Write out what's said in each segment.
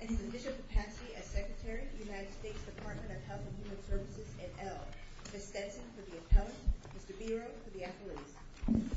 and his official capacity as Secretary, United States Department of Health and Human Services, NL. Ms. Stenson for the Appellant, Mr. Biro for the Appellant.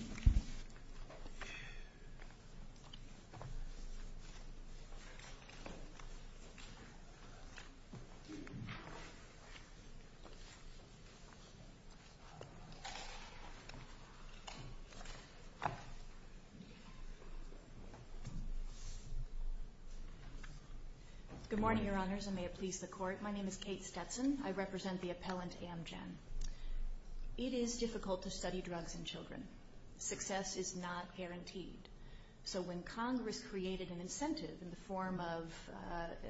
Good morning, Your Honors, and may it please the Court. My name is Kate Stenson. I represent the Appellant, Amgen. It is difficult to study drugs in children. Success is not guaranteed. So when Congress created an incentive in the form of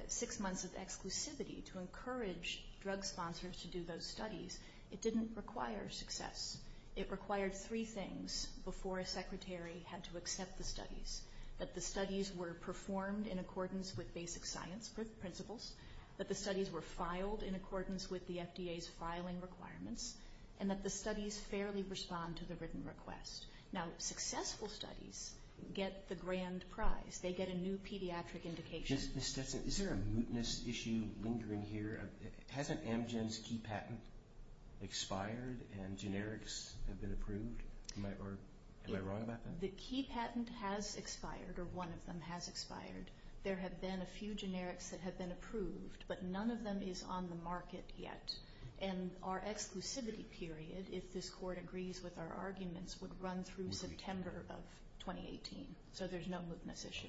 six months of exclusivity to encourage drug sponsors to do those studies, it didn't require success. It required three things before a secretary had to accept the studies, that the studies were performed in accordance with basic science principles, that the studies were filed in accordance with the FDA's filing requirements, and that the studies fairly respond to the written request. Now, successful studies get the grand prize. They get a new pediatric indication. Ms. Stenson, is there a mootness issue lingering here? Hasn't Amgen's key patent expired and generics have been approved? Am I wrong about that? The key patent has expired, or one of them has expired. There have been a few generics that have been approved, but none of them is on the market yet. And our exclusivity period, if this Court agrees with our arguments, would run through September of 2018. So there's no mootness issue.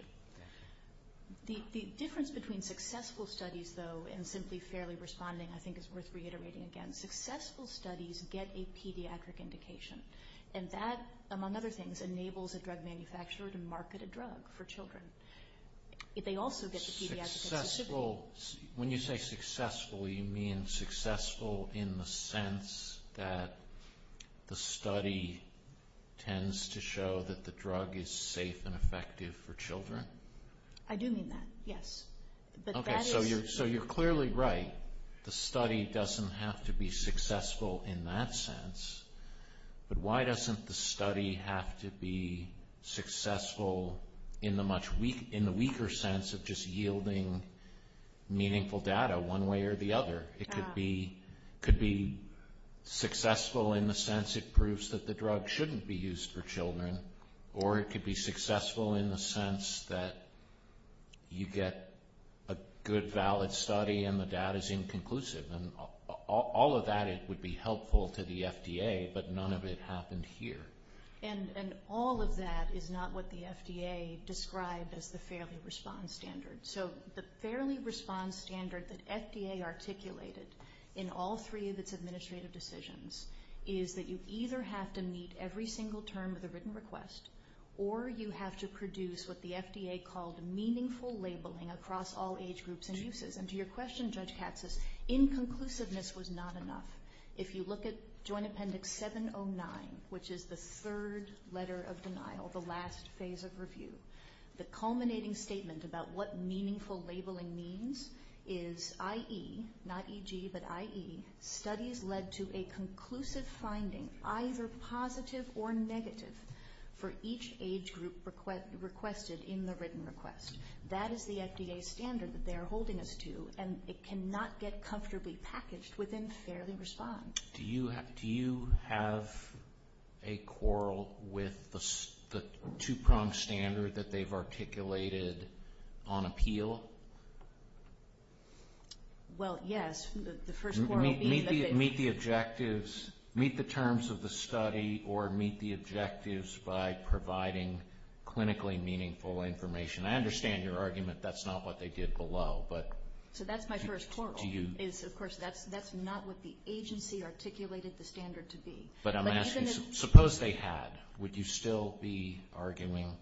The difference between successful studies, though, and simply fairly responding, I think is worth reiterating again. Successful studies get a pediatric indication, and that, among other things, enables a drug manufacturer to market a drug for children. They also get the pediatric exclusivity. When you say successful, you mean successful in the sense that the study tends to show that the drug is safe and effective for children? I do mean that, yes. Okay, so you're clearly right. The study doesn't have to be successful in that sense, but why doesn't the study have to be successful in the weaker sense of just yielding meaningful data one way or the other? It could be successful in the sense it proves that the drug shouldn't be used for children, or it could be successful in the sense that you get a good, valid study and the data is inconclusive. All of that would be helpful to the FDA, but none of it happened here. And all of that is not what the FDA described as the fairly response standard. So the fairly response standard that FDA articulated in all three of its administrative decisions is that you either have to meet every single term of the written request, or you have to produce what the FDA called meaningful labeling across all age groups and uses. And to your question, Judge Katsas, inconclusiveness was not enough. If you look at Joint Appendix 709, which is the third letter of denial, the last phase of review, the culminating statement about what meaningful labeling means is IE, not EG, but IE, studies led to a conclusive finding, either positive or negative, for each age group requested in the written request. That is the FDA standard that they are holding us to, and it cannot get comfortably packaged within fairly response. Do you have a quarrel with the two-pronged standard that they've articulated on appeal? Well, yes, the first quarrel being that they... Meet the objectives, meet the terms of the study, or meet the objectives by providing clinically meaningful information. I understand your argument that's not what they did below, but... But I'm asking, suppose they had. Would you still be arguing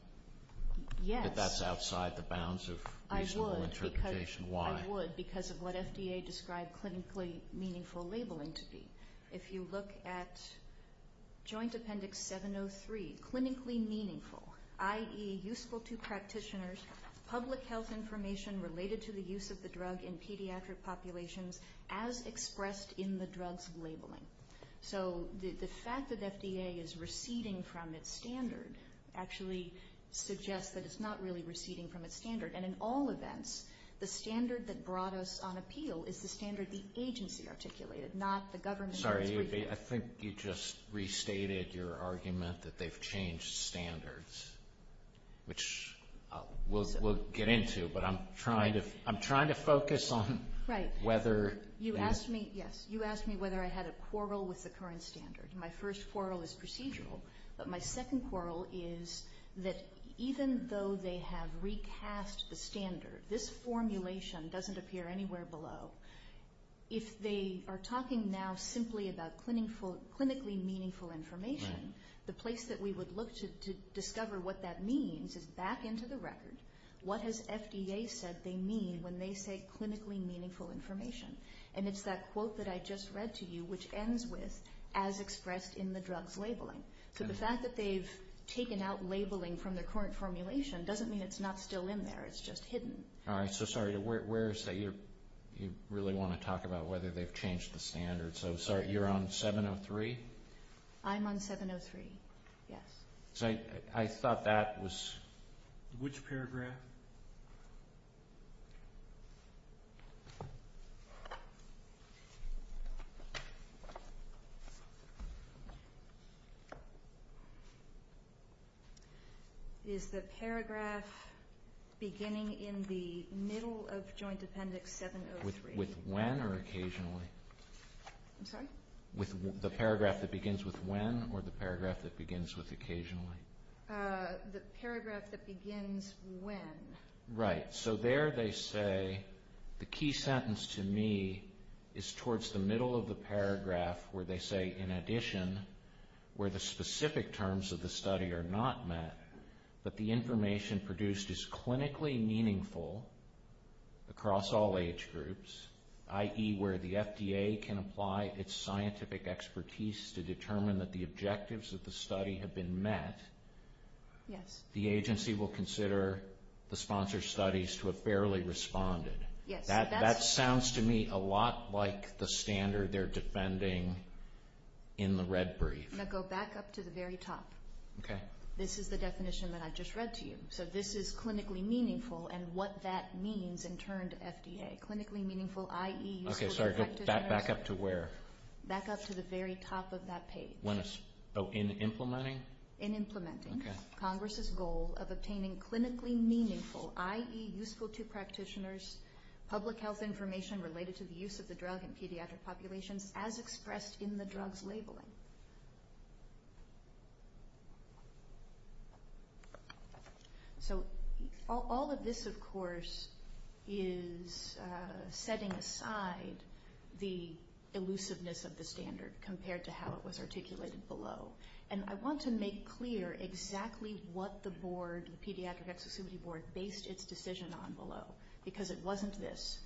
that that's outside the bounds of reasonable interpretation? I would, because of what FDA described clinically meaningful labeling to be. If you look at Joint Appendix 703, clinically meaningful, IE, useful to practitioners, public health information related to the use of the drug in pediatric populations, as expressed in the drug's labeling. So the fact that FDA is receding from its standard actually suggests that it's not really receding from its standard. And in all events, the standard that brought us on appeal is the standard the agency articulated, not the government. Sorry, I think you just restated your argument that they've changed standards, which we'll get into, but I'm trying to focus on... You asked me whether I had a quarrel with the current standard. My first quarrel is procedural. But my second quarrel is that even though they have recast the standard, this formulation doesn't appear anywhere below. If they are talking now simply about clinically meaningful information, the place that we would look to discover what that means is back into the record. What has FDA said they mean when they say clinically meaningful information? And it's that quote that I just read to you, which ends with, as expressed in the drug's labeling. So the fact that they've taken out labeling from their current formulation doesn't mean it's not still in there, it's just hidden. All right, so sorry, where is that you really want to talk about whether they've changed the standard? So, sorry, you're on 703? I'm on 703, yes. I thought that was... Which paragraph? Is the paragraph beginning in the middle of Joint Appendix 703? With when or occasionally? I'm sorry? With the paragraph that begins with when or the paragraph that begins with occasionally? The paragraph that begins when. Right, so there they say, the key sentence to me is towards the middle of the paragraph where they say, in addition, where the specific terms of the study are not met, that the information produced is clinically meaningful across all age groups, i.e. where the FDA can apply its scientific expertise to determine that the objectives of the study have been met, the agency will consider the sponsored studies to have fairly responded. That sounds to me a lot like the standard they're defending in the red brief. I'm going to go back up to the very top. Okay. This is the definition that I just read to you. So this is clinically meaningful and what that means in turn to FDA. Clinically meaningful, i.e. useful to practitioners. Okay, sorry, go back up to where? Back up to the very top of that page. Oh, in implementing? In implementing. Okay. Congress's goal of obtaining clinically meaningful, i.e. useful to practitioners, public health information related to the use of the drug in pediatric populations as expressed in the drug's labeling. Okay. So all of this, of course, is setting aside the elusiveness of the standard compared to how it was articulated below. And I want to make clear exactly what the board, the Pediatric Exclusivity Board, based its decision on below, because it wasn't this.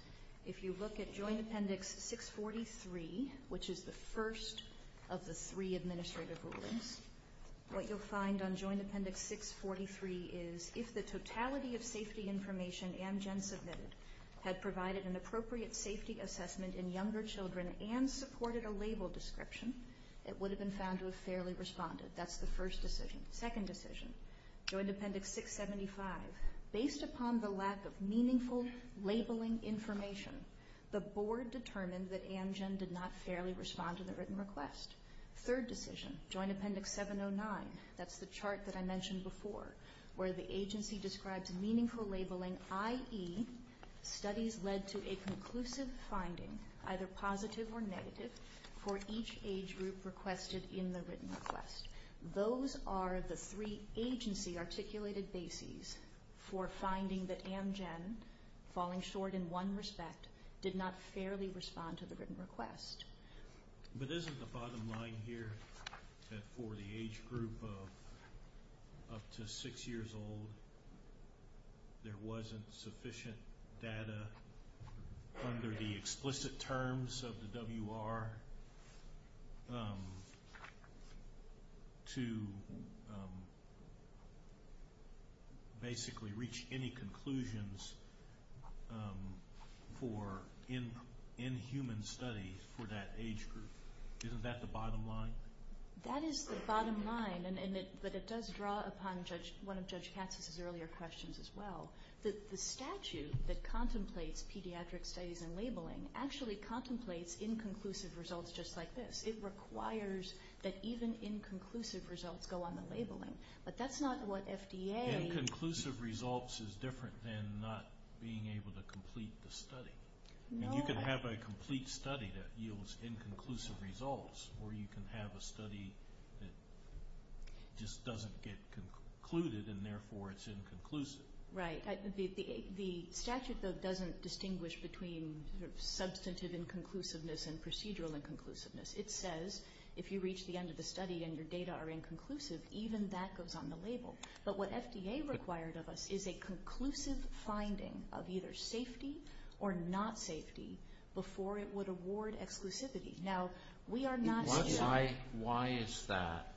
If you look at Joint Appendix 643, which is the first of the three administrative rulings, what you'll find on Joint Appendix 643 is, if the totality of safety information Amgen submitted had provided an appropriate safety assessment in younger children and supported a label description, it would have been found to have fairly responded. That's the first decision. Second decision, Joint Appendix 675, based upon the lack of meaningful labeling information, the board determined that Amgen did not fairly respond to the written request. Third decision, Joint Appendix 709. That's the chart that I mentioned before, where the agency describes meaningful labeling, i.e. studies led to a conclusive finding, either positive or negative, for each age group requested in the written request. Those are the three agency-articulated bases for finding that Amgen, falling short in one respect, did not fairly respond to the written request. But isn't the bottom line here that for the age group up to 6 years old, there wasn't sufficient data under the explicit terms of the WR? Or to basically reach any conclusions in human studies for that age group? Isn't that the bottom line? That is the bottom line, but it does draw upon one of Judge Katz's earlier questions as well. It actually contemplates inconclusive results just like this. It requires that even inconclusive results go on the labeling. But that's not what FDA... Inconclusive results is different than not being able to complete the study. You can have a complete study that yields inconclusive results, or you can have a study that just doesn't get concluded, and therefore it's inconclusive. Right. The statute, though, doesn't distinguish between substantive inconclusiveness and procedural inconclusiveness. It says if you reach the end of the study and your data are inconclusive, even that goes on the label. But what FDA required of us is a conclusive finding of either safety or not safety before it would award exclusivity. Now, we are not... Why is that?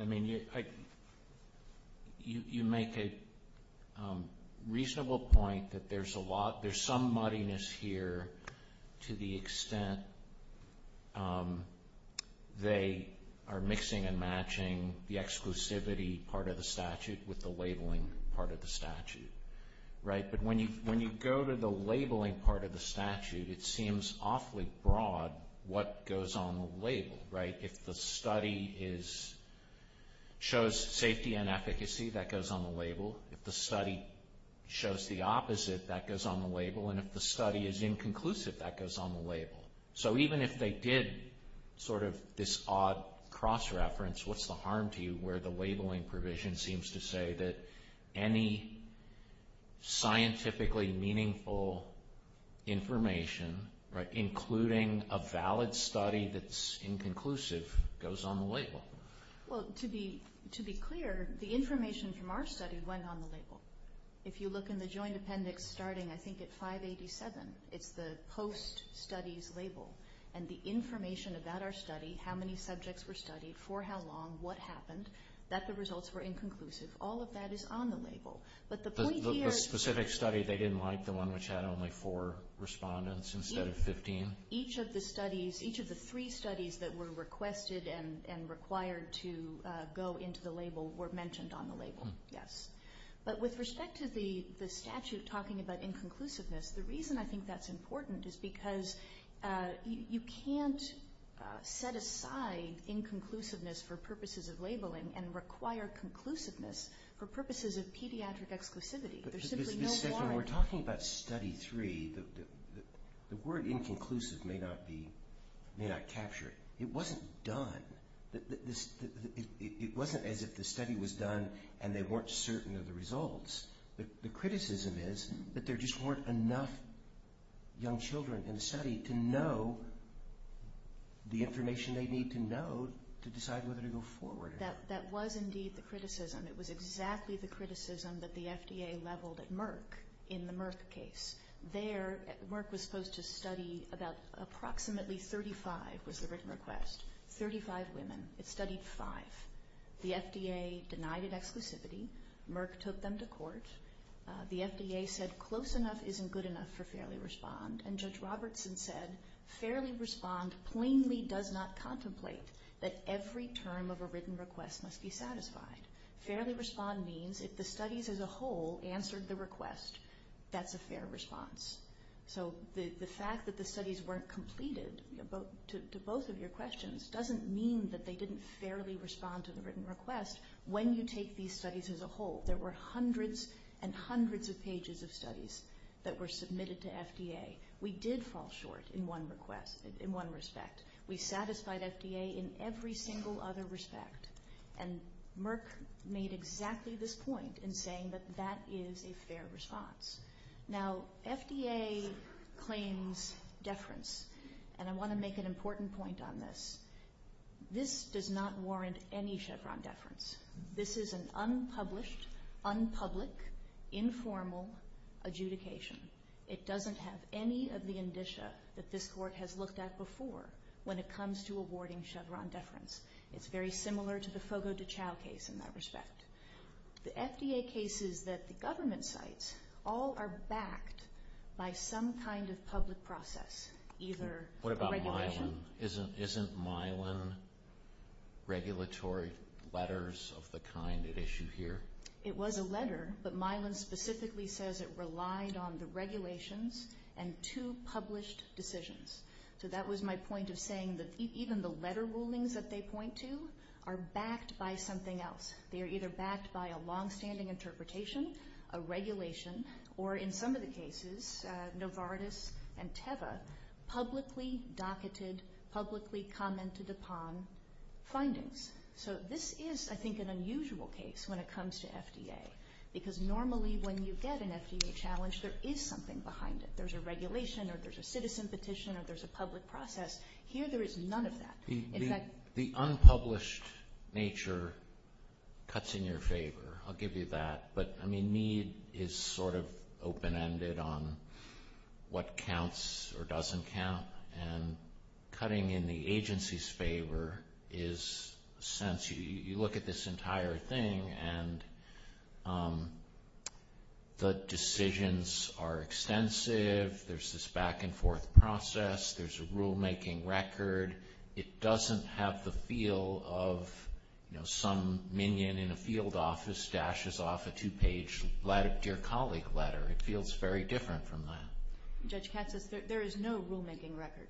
I mean, you make a reasonable point that there's some muddiness here to the extent they are mixing and matching the exclusivity part of the statute with the labeling part of the statute. But when you go to the labeling part of the statute, if the study shows safety and efficacy, that goes on the label. If the study shows the opposite, that goes on the label. And if the study is inconclusive, that goes on the label. So even if they did sort of this odd cross-reference, what's the harm to you where the labeling provision seems to say that any scientifically meaningful information, including a valid study that's inconclusive, goes on the label? Well, to be clear, the information from our study went on the label. If you look in the joint appendix starting, I think, at 587, it's the post-studies label. And the information about our study, how many subjects were studied, for how long, what happened, that the results were inconclusive. All of that is on the label. But the point here... This specific study, they didn't like the one which had only four respondents instead of 15? Each of the studies, each of the three studies that were requested and required to go into the label were mentioned on the label, yes. But with respect to the statute talking about inconclusiveness, the reason I think that's important is because you can't set aside inconclusiveness for purposes of labeling and require conclusiveness for purposes of pediatric exclusivity. There's simply no warrant. Ms. Stegman, we're talking about study three. The word inconclusive may not capture it. It wasn't done. It wasn't as if the study was done and they weren't certain of the results. The criticism is that there just weren't enough young children in the study to know the information they need to know to decide whether to go forward. That was indeed the criticism. It was exactly the criticism that the FDA leveled at Merck in the Merck case. There, Merck was supposed to study about approximately 35 was the written request, 35 women. It studied five. The FDA denied it exclusivity. Merck took them to court. The FDA said close enough isn't good enough for fairly respond. And Judge Robertson said, fairly respond plainly does not contemplate that every term of a written request must be satisfied. Fairly respond means if the studies as a whole answered the request, that's a fair response. So the fact that the studies weren't completed to both of your questions doesn't mean that they didn't fairly respond to the written request when you take these studies as a whole. There were hundreds and hundreds of pages of studies that were submitted to FDA. We did fall short in one request, in one respect. We satisfied FDA in every single other respect. And Merck made exactly this point in saying that that is a fair response. Now, FDA claims deference, and I want to make an important point on this. This does not warrant any Chevron deference. This is an unpublished, unpublic, informal adjudication. It doesn't have any of the indicia that this Court has looked at before when it comes to awarding Chevron deference. It's very similar to the Fogo de Chao case in that respect. The FDA cases that the government cites all are backed by some kind of public process, either a regulation. What about Mylan? Isn't Mylan regulatory letters of the kind at issue here? It was a letter, but Mylan specifically says it relied on the regulations and two published decisions. So that was my point of saying that even the letter rulings that they point to are backed by something else. They are either backed by a longstanding interpretation, a regulation, or in some of the cases, Novartis and Teva publicly docketed, publicly commented upon findings. So this is, I think, an unusual case when it comes to FDA because normally when you get an FDA challenge, there is something behind it. There's a regulation or there's a citizen petition or there's a public process. Here there is none of that. The unpublished nature cuts in your favor. I'll give you that. But, I mean, Mead is sort of open-ended on what counts or doesn't count, and cutting in the agency's favor is a sense. You look at this entire thing and the decisions are extensive. There's this back-and-forth process. There's a rulemaking record. It doesn't have the feel of some minion in a field office dashes off a two-page Dear Colleague letter. It feels very different from that. Judge Katz says there is no rulemaking record.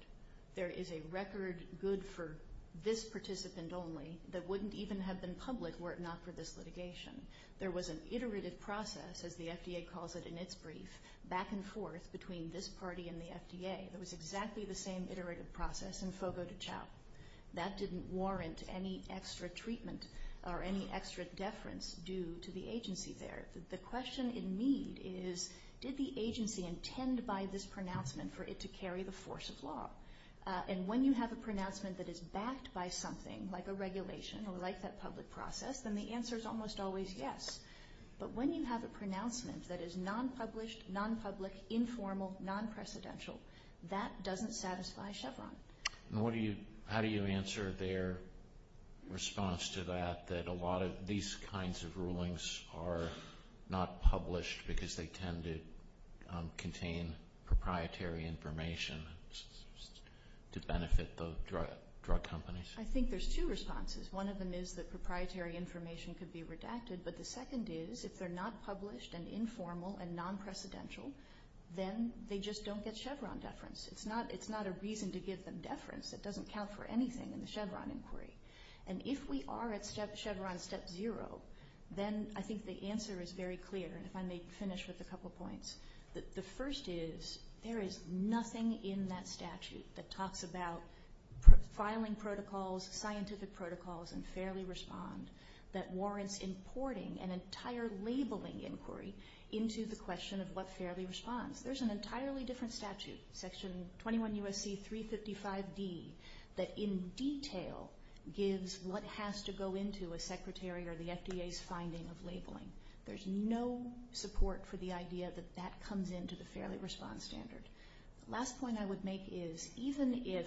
There is a record good for this participant only that wouldn't even have been public were it not for this litigation. There was an iterative process, as the FDA calls it in its brief, back-and-forth between this party and the FDA. It was exactly the same iterative process in Fogo de Chao. That didn't warrant any extra treatment or any extra deference due to the agency there. The question in Mead is, did the agency intend by this pronouncement for it to carry the force of law? And when you have a pronouncement that is backed by something, like a regulation or like that public process, then the answer is almost always yes. But when you have a pronouncement that is non-published, non-public, informal, non-precedential, that doesn't satisfy Chevron. How do you answer their response to that, that a lot of these kinds of rulings are not published because they tend to contain proprietary information to benefit the drug companies? I think there's two responses. One of them is that proprietary information could be redacted, but the second is if they're not published and informal and non-precedential, then they just don't get Chevron deference. It's not a reason to give them deference. It doesn't count for anything in the Chevron inquiry. And if we are at Chevron step zero, then I think the answer is very clear, and if I may finish with a couple points. The first is there is nothing in that statute that talks about filing protocols, scientific protocols, and fairly respond, that warrants importing an entire labeling inquiry into the question of what fairly responds. There's an entirely different statute, Section 21 U.S.C. 355D, that in detail gives what has to go into a secretary or the FDA's finding of labeling. There's no support for the idea that that comes into the fairly response standard. The last point I would make is, even if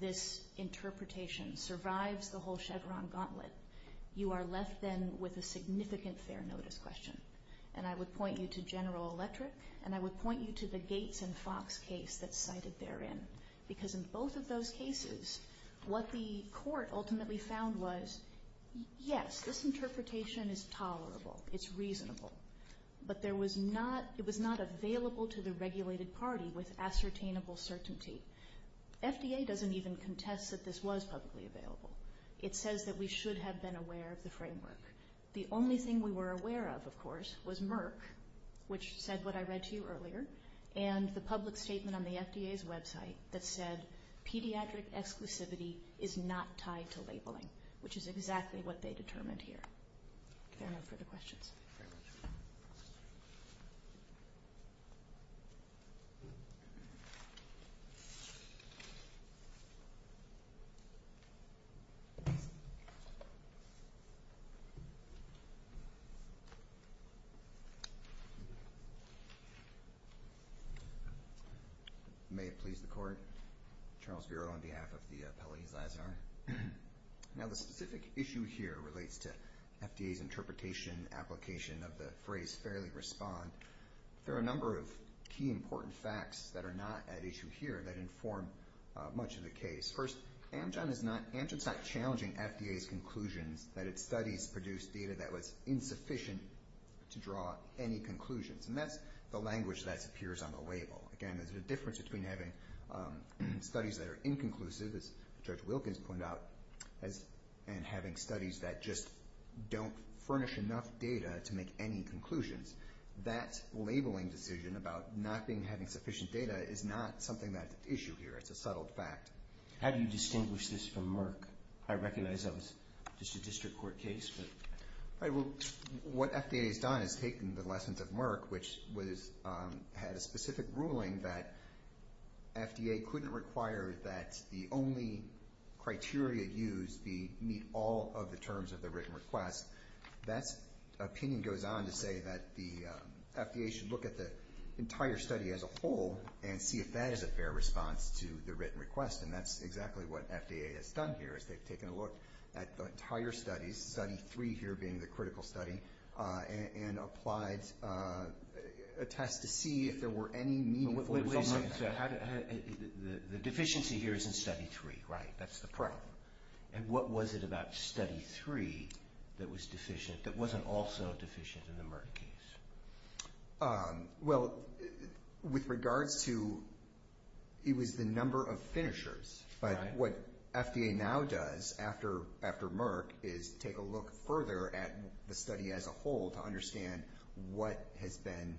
this interpretation survives the whole Chevron gauntlet, you are left then with a significant fair notice question. And I would point you to General Electric, and I would point you to the Gates and Fox case that's cited therein, because in both of those cases, what the court ultimately found was, yes, this interpretation is tolerable, it's reasonable, but it was not available to the regulated party with ascertainable certainty. FDA doesn't even contest that this was publicly available. It says that we should have been aware of the framework. The only thing we were aware of, of course, was Merck, which said what I read to you earlier, and the public statement on the FDA's website that said, pediatric exclusivity is not tied to labeling, which is exactly what they determined here. If there are no further questions. Thank you very much. May it please the Court. Charles Bureau on behalf of the appellees. Now, the specific issue here relates to FDA's interpretation, application of the phrase fairly respond. There are a number of key important facts that are not at issue here that inform much of the case. First, Amgen is not challenging FDA's conclusions that its studies produced data that was insufficient to draw any conclusions, and that's the language that appears on the label. Again, there's a difference between having studies that are inconclusive, as Judge Wilkins pointed out, and having studies that just don't furnish enough data to make any conclusions. That labeling decision about not having sufficient data is not something that's at issue here. It's a subtle fact. How do you distinguish this from Merck? I recognize that was just a district court case. What FDA has done is taken the lessons of Merck, which had a specific ruling that FDA couldn't require that the only criteria used meet all of the terms of the written request. That opinion goes on to say that the FDA should look at the entire study as a whole and see if that is a fair response to the written request, and that's exactly what FDA has done here, is they've taken a look at the entire studies, study three here being the critical study, and applied a test to see if there were any meaningful results. The deficiency here is in study three, right? That's the problem. And what was it about study three that was deficient, that wasn't also deficient in the Merck case? Well, with regards to it was the number of finishers. But what FDA now does after Merck is take a look further at the study as a whole to understand what has been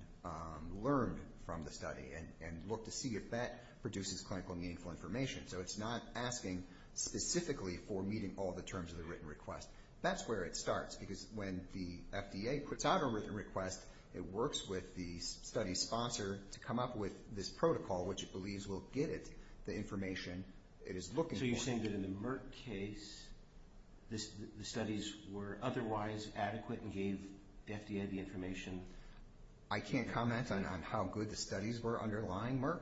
learned from the study and look to see if that produces clinical meaningful information. So it's not asking specifically for meeting all the terms of the written request. That's where it starts, because when the FDA puts out a written request, it works with the study sponsor to come up with this protocol, which it believes will get it the information it is looking for. So you're saying that in the Merck case, the studies were otherwise adequate and gave the FDA the information? I can't comment on how good the studies were underlying Merck.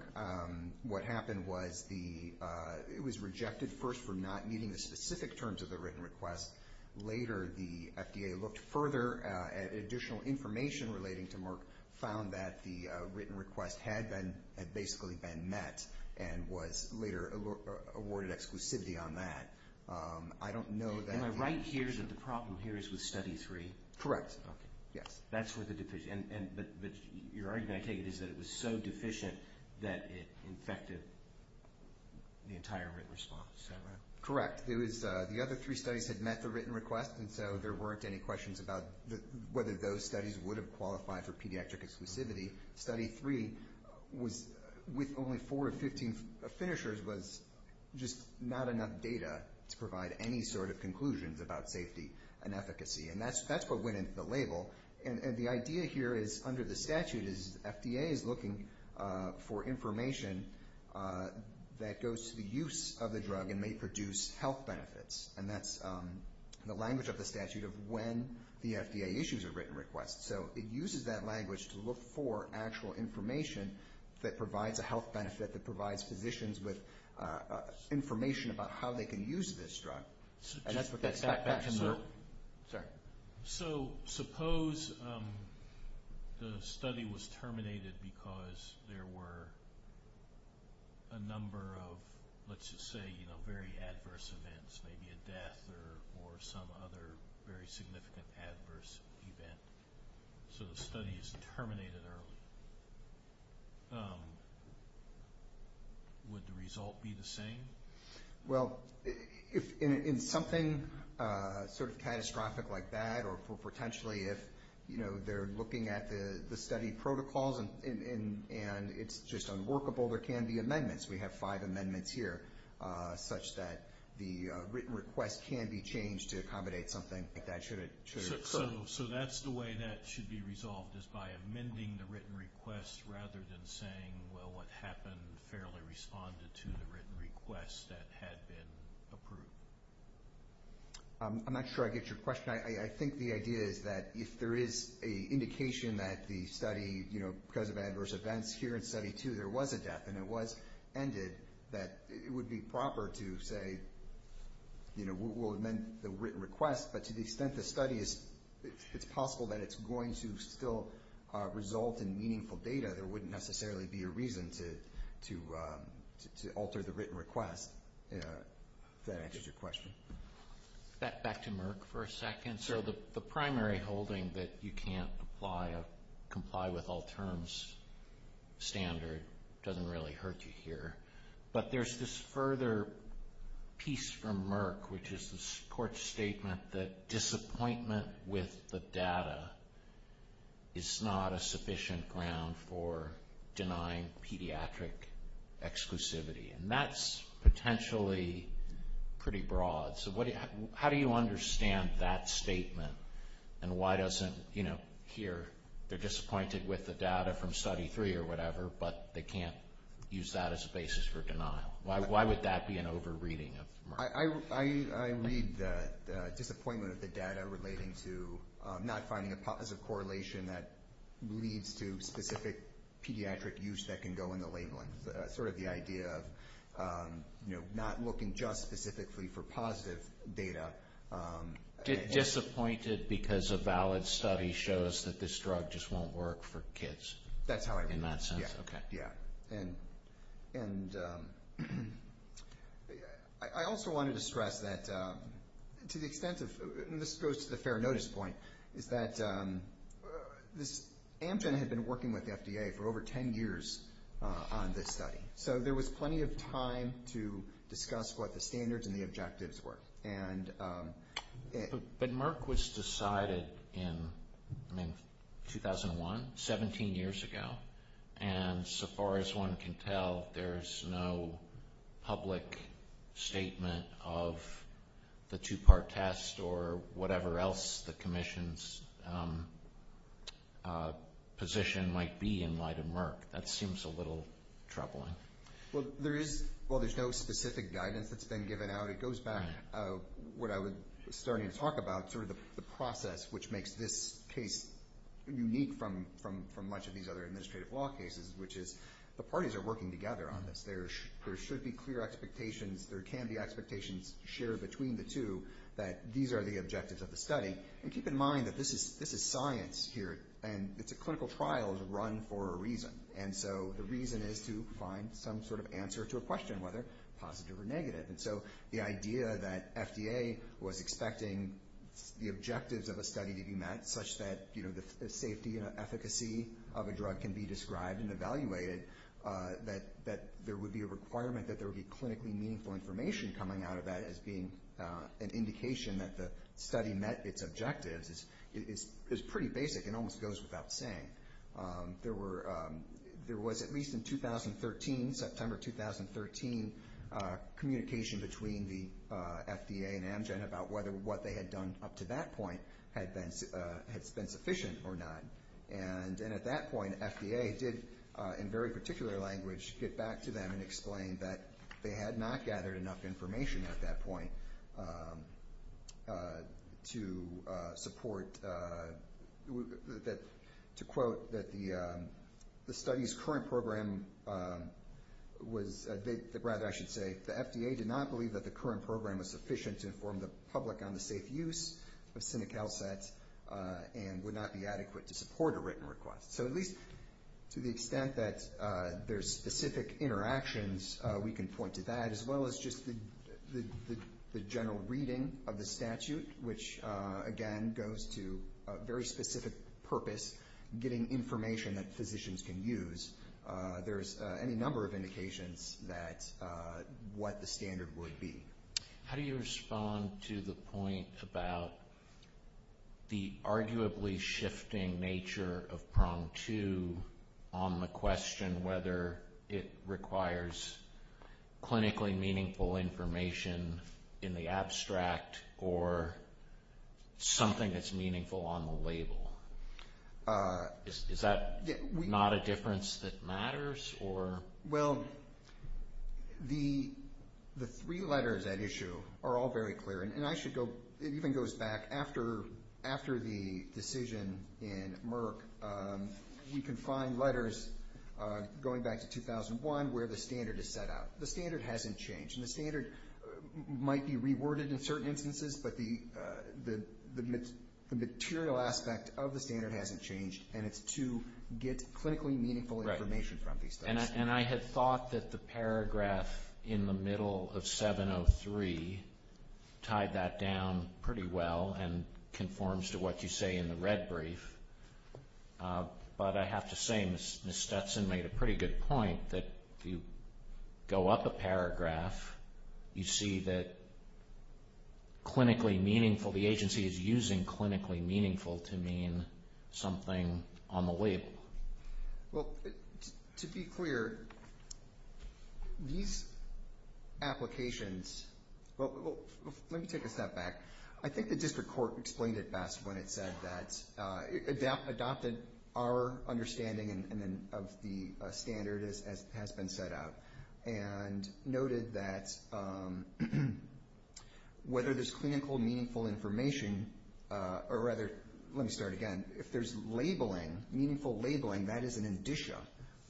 What happened was it was rejected, first for not meeting the specific terms of the written request. Later the FDA looked further at additional information relating to Merck, found that the written request had basically been met and was later awarded exclusivity on that. Am I right here that the problem here is with study three? Correct, yes. Your argument, I take it, is that it was so deficient that it infected the entire written response. Correct. The other three studies had met the written request, and so there weren't any questions about whether those studies would have qualified for pediatric exclusivity. Study three, with only four or 15 finishers, And that's what went into the label. And the idea here is, under the statute, is the FDA is looking for information that goes to the use of the drug and may produce health benefits. And that's the language of the statute of when the FDA issues a written request. So it uses that language to look for actual information that provides a health benefit, that provides physicians with information about how they can use this drug. And that's what they expect back from the group. So suppose the study was terminated because there were a number of, let's just say, very adverse events, maybe a death or some other very significant adverse event. So the study is terminated early. Would the result be the same? Well, in something sort of catastrophic like that, or potentially if they're looking at the study protocols and it's just unworkable, there can be amendments. We have five amendments here, such that the written request can be changed to accommodate something like that. So that's the way that should be resolved, is by amending the written request rather than saying, well, what happened fairly responded to the written request that had been approved. I'm not sure I get your question. I think the idea is that if there is an indication that the study, because of adverse events here in Study 2 there was a death and it was ended, that it would be proper to say we'll amend the written request. But to the extent the study is possible, that it's going to still result in meaningful data. There wouldn't necessarily be a reason to alter the written request. If that answers your question. Back to Merck for a second. So the primary holding that you can't comply with all terms standard doesn't really hurt you here. But there's this further piece from Merck, which is the court's statement that disappointment with the data is not a sufficient ground for denying pediatric exclusivity. And that's potentially pretty broad. So how do you understand that statement? And why doesn't here they're disappointed with the data from Study 3 or whatever, Why would that be an over-reading of Merck? I read the disappointment of the data relating to not finding a positive correlation that leads to specific pediatric use that can go in the labeling. Sort of the idea of not looking just specifically for positive data. Disappointed because a valid study shows that this drug just won't work for kids. That's how I read it. And I also wanted to stress that to the extent of, and this goes to the fair notice point, is that Amgen had been working with the FDA for over 10 years on this study. So there was plenty of time to discuss what the standards and the objectives were. But Merck was decided in 2001, 17 years ago. And so far as one can tell, there's no public statement of the two-part test or whatever else the commission's position might be in light of Merck. That seems a little troubling. Well, there's no specific guidance that's been given out. It goes back to what I was starting to talk about, sort of the process which makes this case unique from much of these other administrative law cases, which is the parties are working together on this. There should be clear expectations. There can be expectations shared between the two that these are the objectives of the study. And keep in mind that this is science here, and it's a clinical trial. It was run for a reason. And so the reason is to find some sort of answer to a question, whether positive or negative. And so the idea that FDA was expecting the objectives of a study to be met, such that the safety and efficacy of a drug can be described and evaluated, that there would be a requirement that there would be clinically meaningful information coming out of that as being an indication that the study met its objectives is pretty basic and almost goes without saying. There was, at least in September 2013, communication between the FDA and Amgen about whether what they had done up to that point had been sufficient or not. And at that point, FDA did, in very particular language, get back to them and explain that they had not gathered enough information at that point to support, to quote, that the study's current program was, rather I should say, the FDA did not believe that the current program was sufficient to inform the public on the safe use of SINIC L-sets and would not be adequate to support a written request. So at least to the extent that there's specific interactions, we can point to that, as well as just the general reading of the statute, which, again, goes to a very specific purpose, getting information that physicians can use. There's any number of indications that what the standard would be. How do you respond to the point about the arguably shifting nature of PROM2 on the question whether it requires clinically meaningful information in the abstract or something that's meaningful on the label? Well, the three letters at issue are all very clear, and it even goes back after the decision in Merck. We can find letters going back to 2001 where the standard is set out. The standard hasn't changed, and the standard might be reworded in certain instances, but the material aspect of the standard hasn't changed, and it's to get clinically meaningful information from these studies. And I had thought that the paragraph in the middle of 703 tied that down pretty well and conforms to what you say in the red brief, but I have to say Ms. Stetson made a pretty good point that if you go up a paragraph, you see that clinically meaningful, the agency is using clinically meaningful to mean something on the label. Well, to be clear, these applications, well, let me take a step back. I think the district court explained it best when it said that, adopted our understanding of the standard as it has been set out and noted that whether there's clinical meaningful information, or rather, let me start again. If there's labeling, meaningful labeling, that is an indicia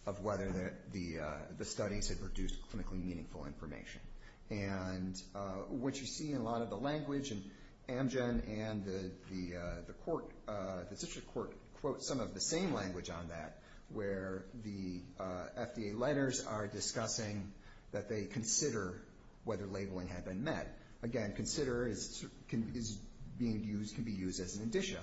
of whether the studies have produced clinically meaningful information. And what you see in a lot of the language, and Amgen and the district court quote some of the same language on that where the FDA letters are discussing that they consider whether labeling had been met. Again, consider can be used as an indicia.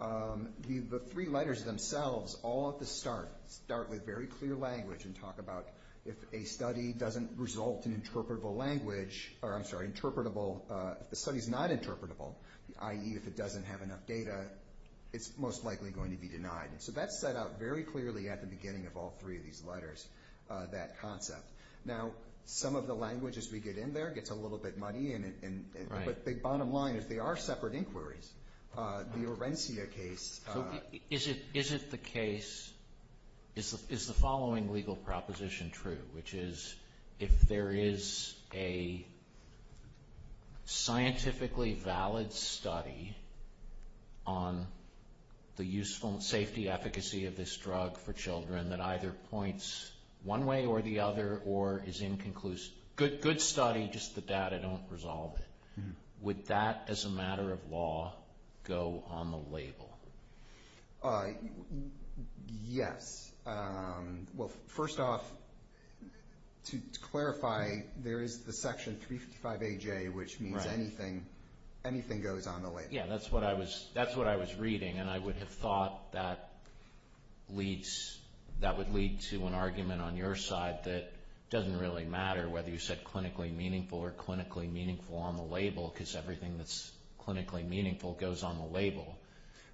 The three letters themselves all at the start start with very clear language and talk about if a study doesn't result in interpretable language, or I'm sorry, interpretable, if the study's not interpretable, i.e. if it doesn't have enough data, it's most likely going to be denied. So that's set out very clearly at the beginning of all three of these letters, that concept. Now, some of the language as we get in there gets a little bit muddy, but the bottom line is they are separate inquiries. The Orencia case... So is it the case, is the following legal proposition true, which is if there is a scientifically valid study on the useful safety efficacy of this drug for children that either points one way or the other or is inconclusive, good study, just the data don't resolve it, would that as a matter of law go on the label? Yes. Well, first off, to clarify, there is the section 355AJ, which means anything goes on the label. Yeah, that's what I was reading, and I would have thought that would lead to an argument on your side that doesn't really matter whether you said clinically meaningful or clinically meaningful on the label because everything that's clinically meaningful goes on the label.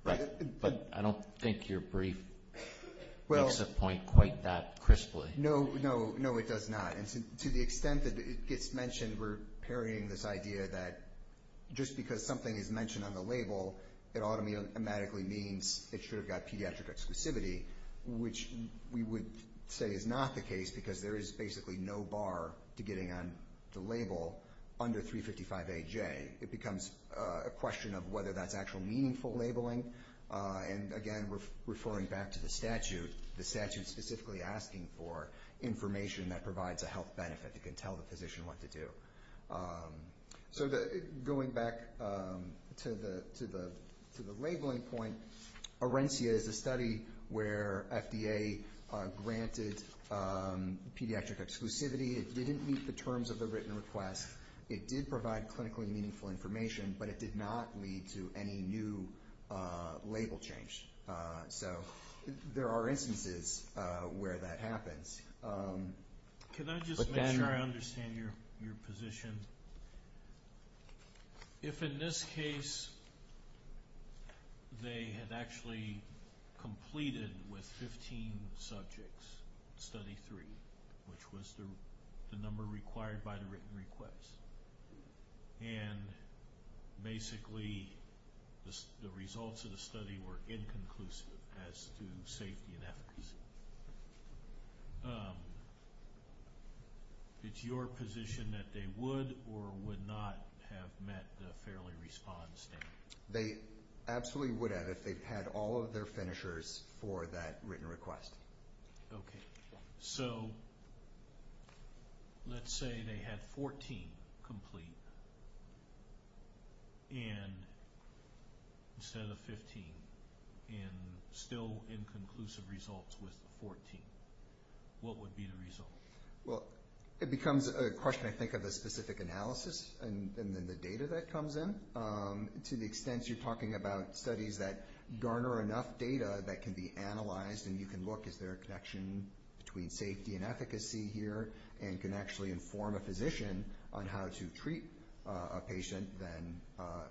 But I don't think your brief makes a point quite that crisply. No, no, no, it does not. And to the extent that it gets mentioned, we're parrying this idea that just because something is mentioned on the label, it automatically means it should have got pediatric exclusivity, which we would say is not the case because there is basically no bar to getting on the label under 355AJ. It becomes a question of whether that's actual meaningful labeling. And, again, referring back to the statute, the statute specifically asking for information that provides a health benefit, it can tell the physician what to do. So going back to the labeling point, Orencia is a study where FDA granted pediatric exclusivity. It didn't meet the terms of the written request. It did provide clinically meaningful information, but it did not lead to any new label change. So there are instances where that happens. Can I just make sure I understand your position? And if in this case they had actually completed with 15 subjects, study three, which was the number required by the written request, and basically the results of the study were inconclusive as to safety and efficacy, so it's your position that they would or would not have met the fairly respond standard? They absolutely would have if they had all of their finishers for that written request. Okay. So let's say they had 14 complete instead of 15 and still inconclusive results with 14. What would be the result? Well, it becomes a question, I think, of the specific analysis and then the data that comes in. To the extent you're talking about studies that garner enough data that can be analyzed and you can look, is there a connection between safety and efficacy here, and can actually inform a physician on how to treat a patient, then,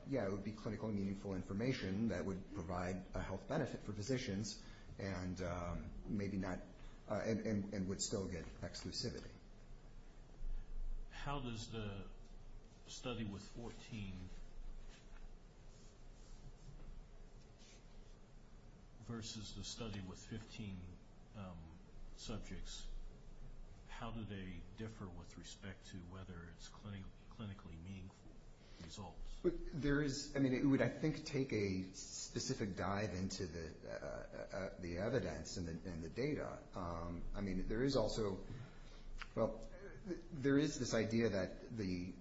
yeah, it would be clinically meaningful information that would provide a health benefit for physicians and would still get exclusivity. How does the study with 14 versus the study with 15 subjects, how do they differ with respect to whether it's clinically meaningful results? I mean, it would, I think, take a specific dive into the evidence and the data. I mean, there is also this idea that the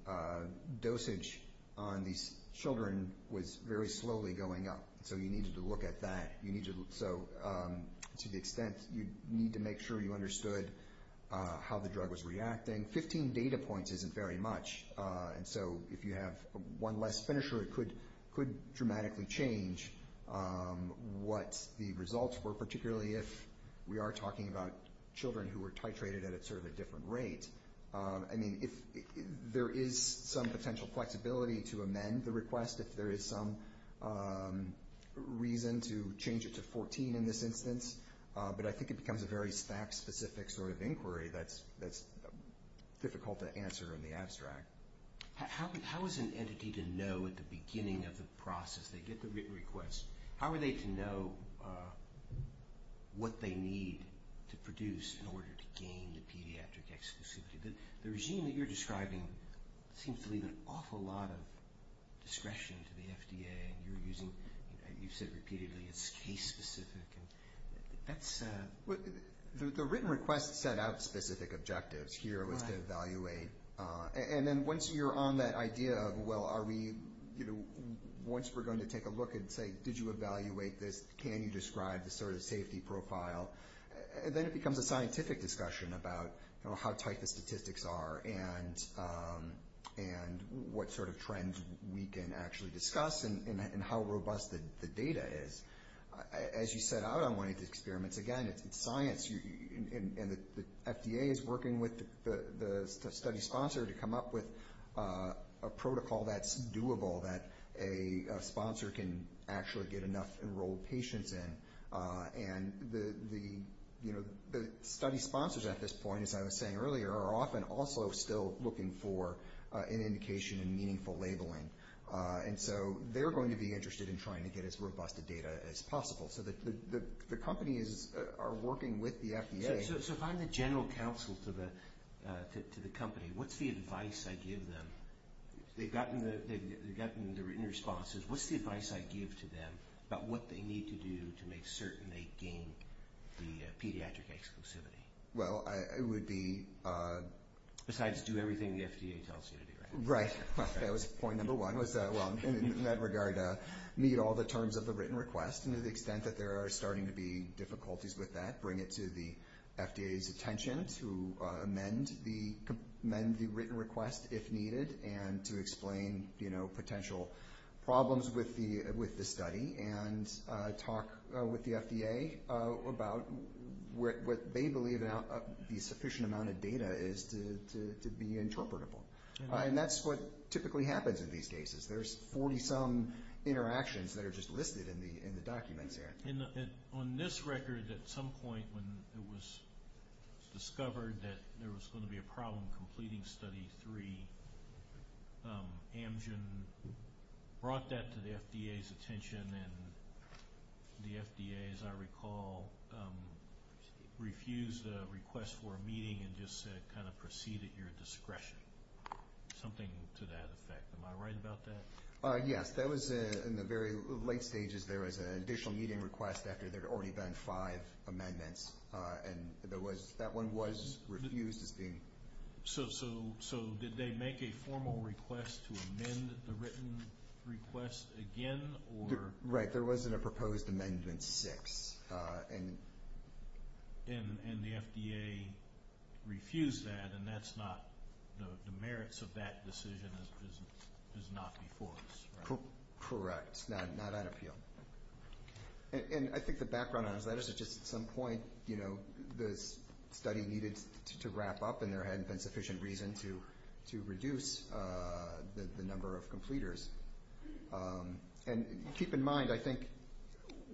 dosage on these children was very slowly going up, so you needed to look at that. So to the extent you need to make sure you understood how the drug was reacting, 15 data points isn't very much, and so if you have one less finisher it could dramatically change what the results were, particularly if we are talking about children who were titrated at sort of a different rate. I mean, there is some potential flexibility to amend the request if there is some reason to change it to 14 in this instance, but I think it becomes a very stack-specific sort of inquiry that's difficult to answer in the abstract. How is an entity to know at the beginning of the process, they get the written request, how are they to know what they need to produce in order to gain the pediatric exclusivity? The regime that you're describing seems to leave an awful lot of discretion to the FDA, and you're using, you've said repeatedly, it's case-specific. The written request set out specific objectives. Here it was to evaluate, and then once you're on that idea of, well, once we're going to take a look and say, did you evaluate this, can you describe the sort of safety profile, then it becomes a scientific discussion about how tight the statistics are and what sort of trends we can actually discuss and how robust the data is. As you set out on one of these experiments, again, it's science, and the FDA is working with the study sponsor to come up with a protocol that's doable, that a sponsor can actually get enough enrolled patients in, and the study sponsors at this point, as I was saying earlier, are often also still looking for an indication in meaningful labeling, and so they're going to be interested in trying to get as robust a data as possible. So the companies are working with the FDA. So if I'm the general counsel to the company, what's the advice I give them? They've gotten the written responses. What's the advice I give to them about what they need to do to make certain they gain the pediatric exclusivity? Well, it would be... Besides do everything the FDA tells you to do, right? Right. That was point number one was, well, in that regard, meet all the terms of the written request, and to the extent that there are starting to be difficulties with that, bring it to the FDA's attention to amend the written request if needed and to explain potential problems with the study and talk with the FDA about what they believe the sufficient amount of data is to be interpretable. And that's what typically happens in these cases. There's 40-some interactions that are just listed in the documents here. And on this record, at some point when it was discovered that there was going to be a problem completing Study 3, Amgen brought that to the FDA's attention, and the FDA, as I recall, refused a request for a meeting and just said kind of proceed at your discretion. Something to that effect. Am I right about that? Yes. That was in the very late stages. There was an additional meeting request after there had already been five amendments, and that one was refused as being... So did they make a formal request to amend the written request again? Right. There wasn't a proposed amendment 6. And the FDA refused that, and the merits of that decision is not before us. Correct. Not at appeal. And I think the background on his letters is just at some point, you know, the study needed to wrap up, and there hadn't been sufficient reason to reduce the number of completers. And keep in mind, I think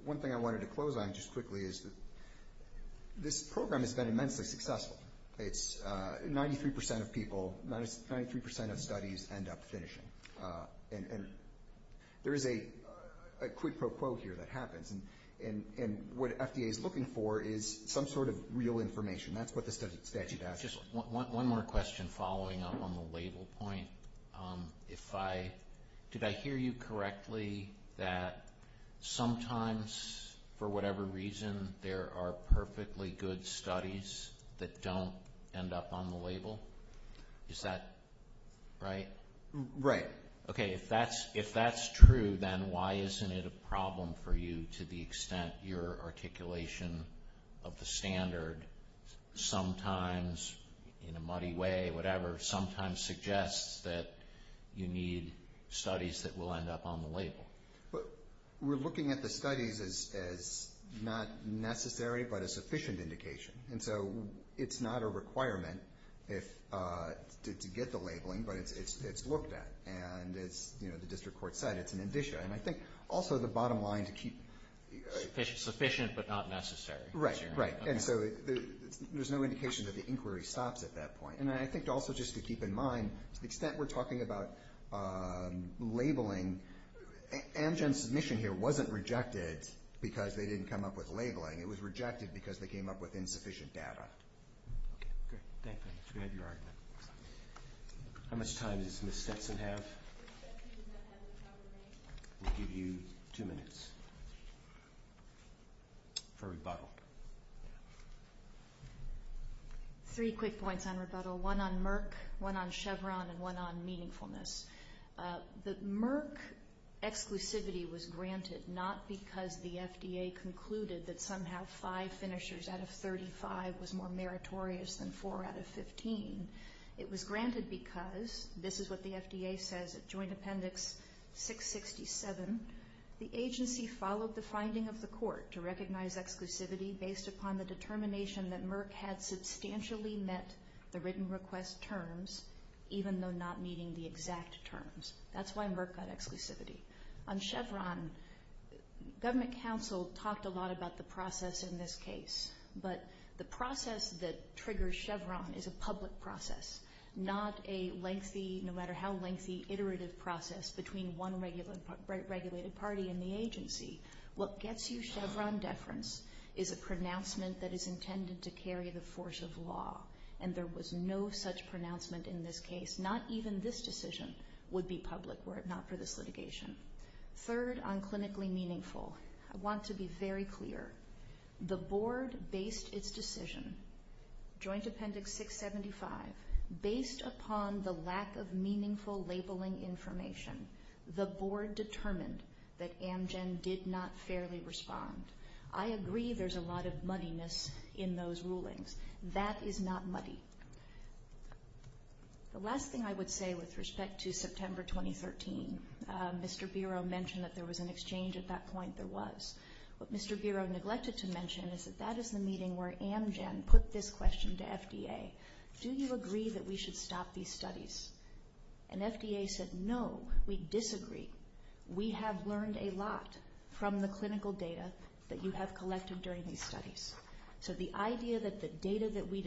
one thing I wanted to close on just quickly is that this program has been immensely successful. It's 93% of people, 93% of studies end up finishing. And there is a quid pro quo here that happens, and what FDA is looking for is some sort of real information. That's what the statute asks. Just one more question following up on the label point. Did I hear you correctly that sometimes, for whatever reason, there are perfectly good studies that don't end up on the label? Is that right? Right. Okay. If that's true, then why isn't it a problem for you to the extent your articulation of the standard sometimes, in a muddy way, whatever, sometimes suggests that you need studies that will end up on the label? We're looking at the studies as not necessary but a sufficient indication. And so it's not a requirement to get the labeling, but it's looked at. And as the district court said, it's an indicia. And I think also the bottom line to keep... Sufficient but not necessary. Right, right. And so there's no indication that the inquiry stops at that point. And I think also just to keep in mind, to the extent we're talking about labeling, Amgen's submission here wasn't rejected because they didn't come up with labeling. It was rejected because they came up with insufficient data. Okay, great. Thank you. We appreciate your argument. How much time does Ms. Stetson have? We'll give you two minutes for rebuttal. Three quick points on rebuttal. One on Merck, one on Chevron, and one on meaningfulness. The Merck exclusivity was granted not because the FDA concluded that somehow five finishers out of 35 was more meritorious than four out of 15. It was granted because, this is what the FDA says at Joint Appendix 667, the agency followed the finding of the court to recognize exclusivity based upon the determination that Merck had substantially met the written request terms even though not meeting the exact terms. That's why Merck got exclusivity. On Chevron, government counsel talked a lot about the process in this case, but the process that triggers Chevron is a public process, not a lengthy, no matter how lengthy, iterative process between one regulated party and the agency. What gets you Chevron deference is a pronouncement that is intended to carry the force of law, and there was no such pronouncement in this case. Not even this decision would be public were it not for this litigation. Third, on clinically meaningful, I want to be very clear. The board based its decision, Joint Appendix 675, based upon the lack of meaningful labeling information. The board determined that Amgen did not fairly respond. I agree there's a lot of muddiness in those rulings. That is not muddy. The last thing I would say with respect to September 2013, Mr. Biro mentioned that there was an exchange at that point. There was. What Mr. Biro neglected to mention is that that is the meeting where Amgen put this question to FDA, do you agree that we should stop these studies? And FDA said, no, we disagree. We have learned a lot from the clinical data that you have collected during these studies. So the idea that the data that we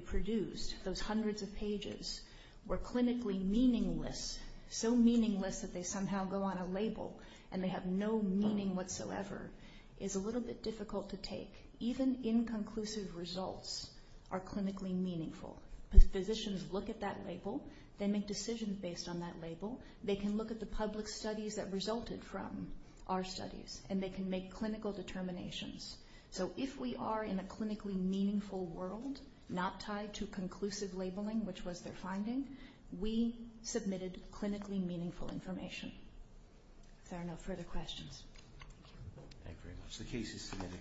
produced, those hundreds of pages, were clinically meaningless, so meaningless that they somehow go on a label and they have no meaning whatsoever is a little bit difficult to take. Even inconclusive results are clinically meaningful. Physicians look at that label. They make decisions based on that label. They can look at the public studies that resulted from our studies, and they can make clinical determinations. So if we are in a clinically meaningful world, not tied to conclusive labeling, which was their finding, we submitted clinically meaningful information. If there are no further questions. Thank you very much. The case is submitted.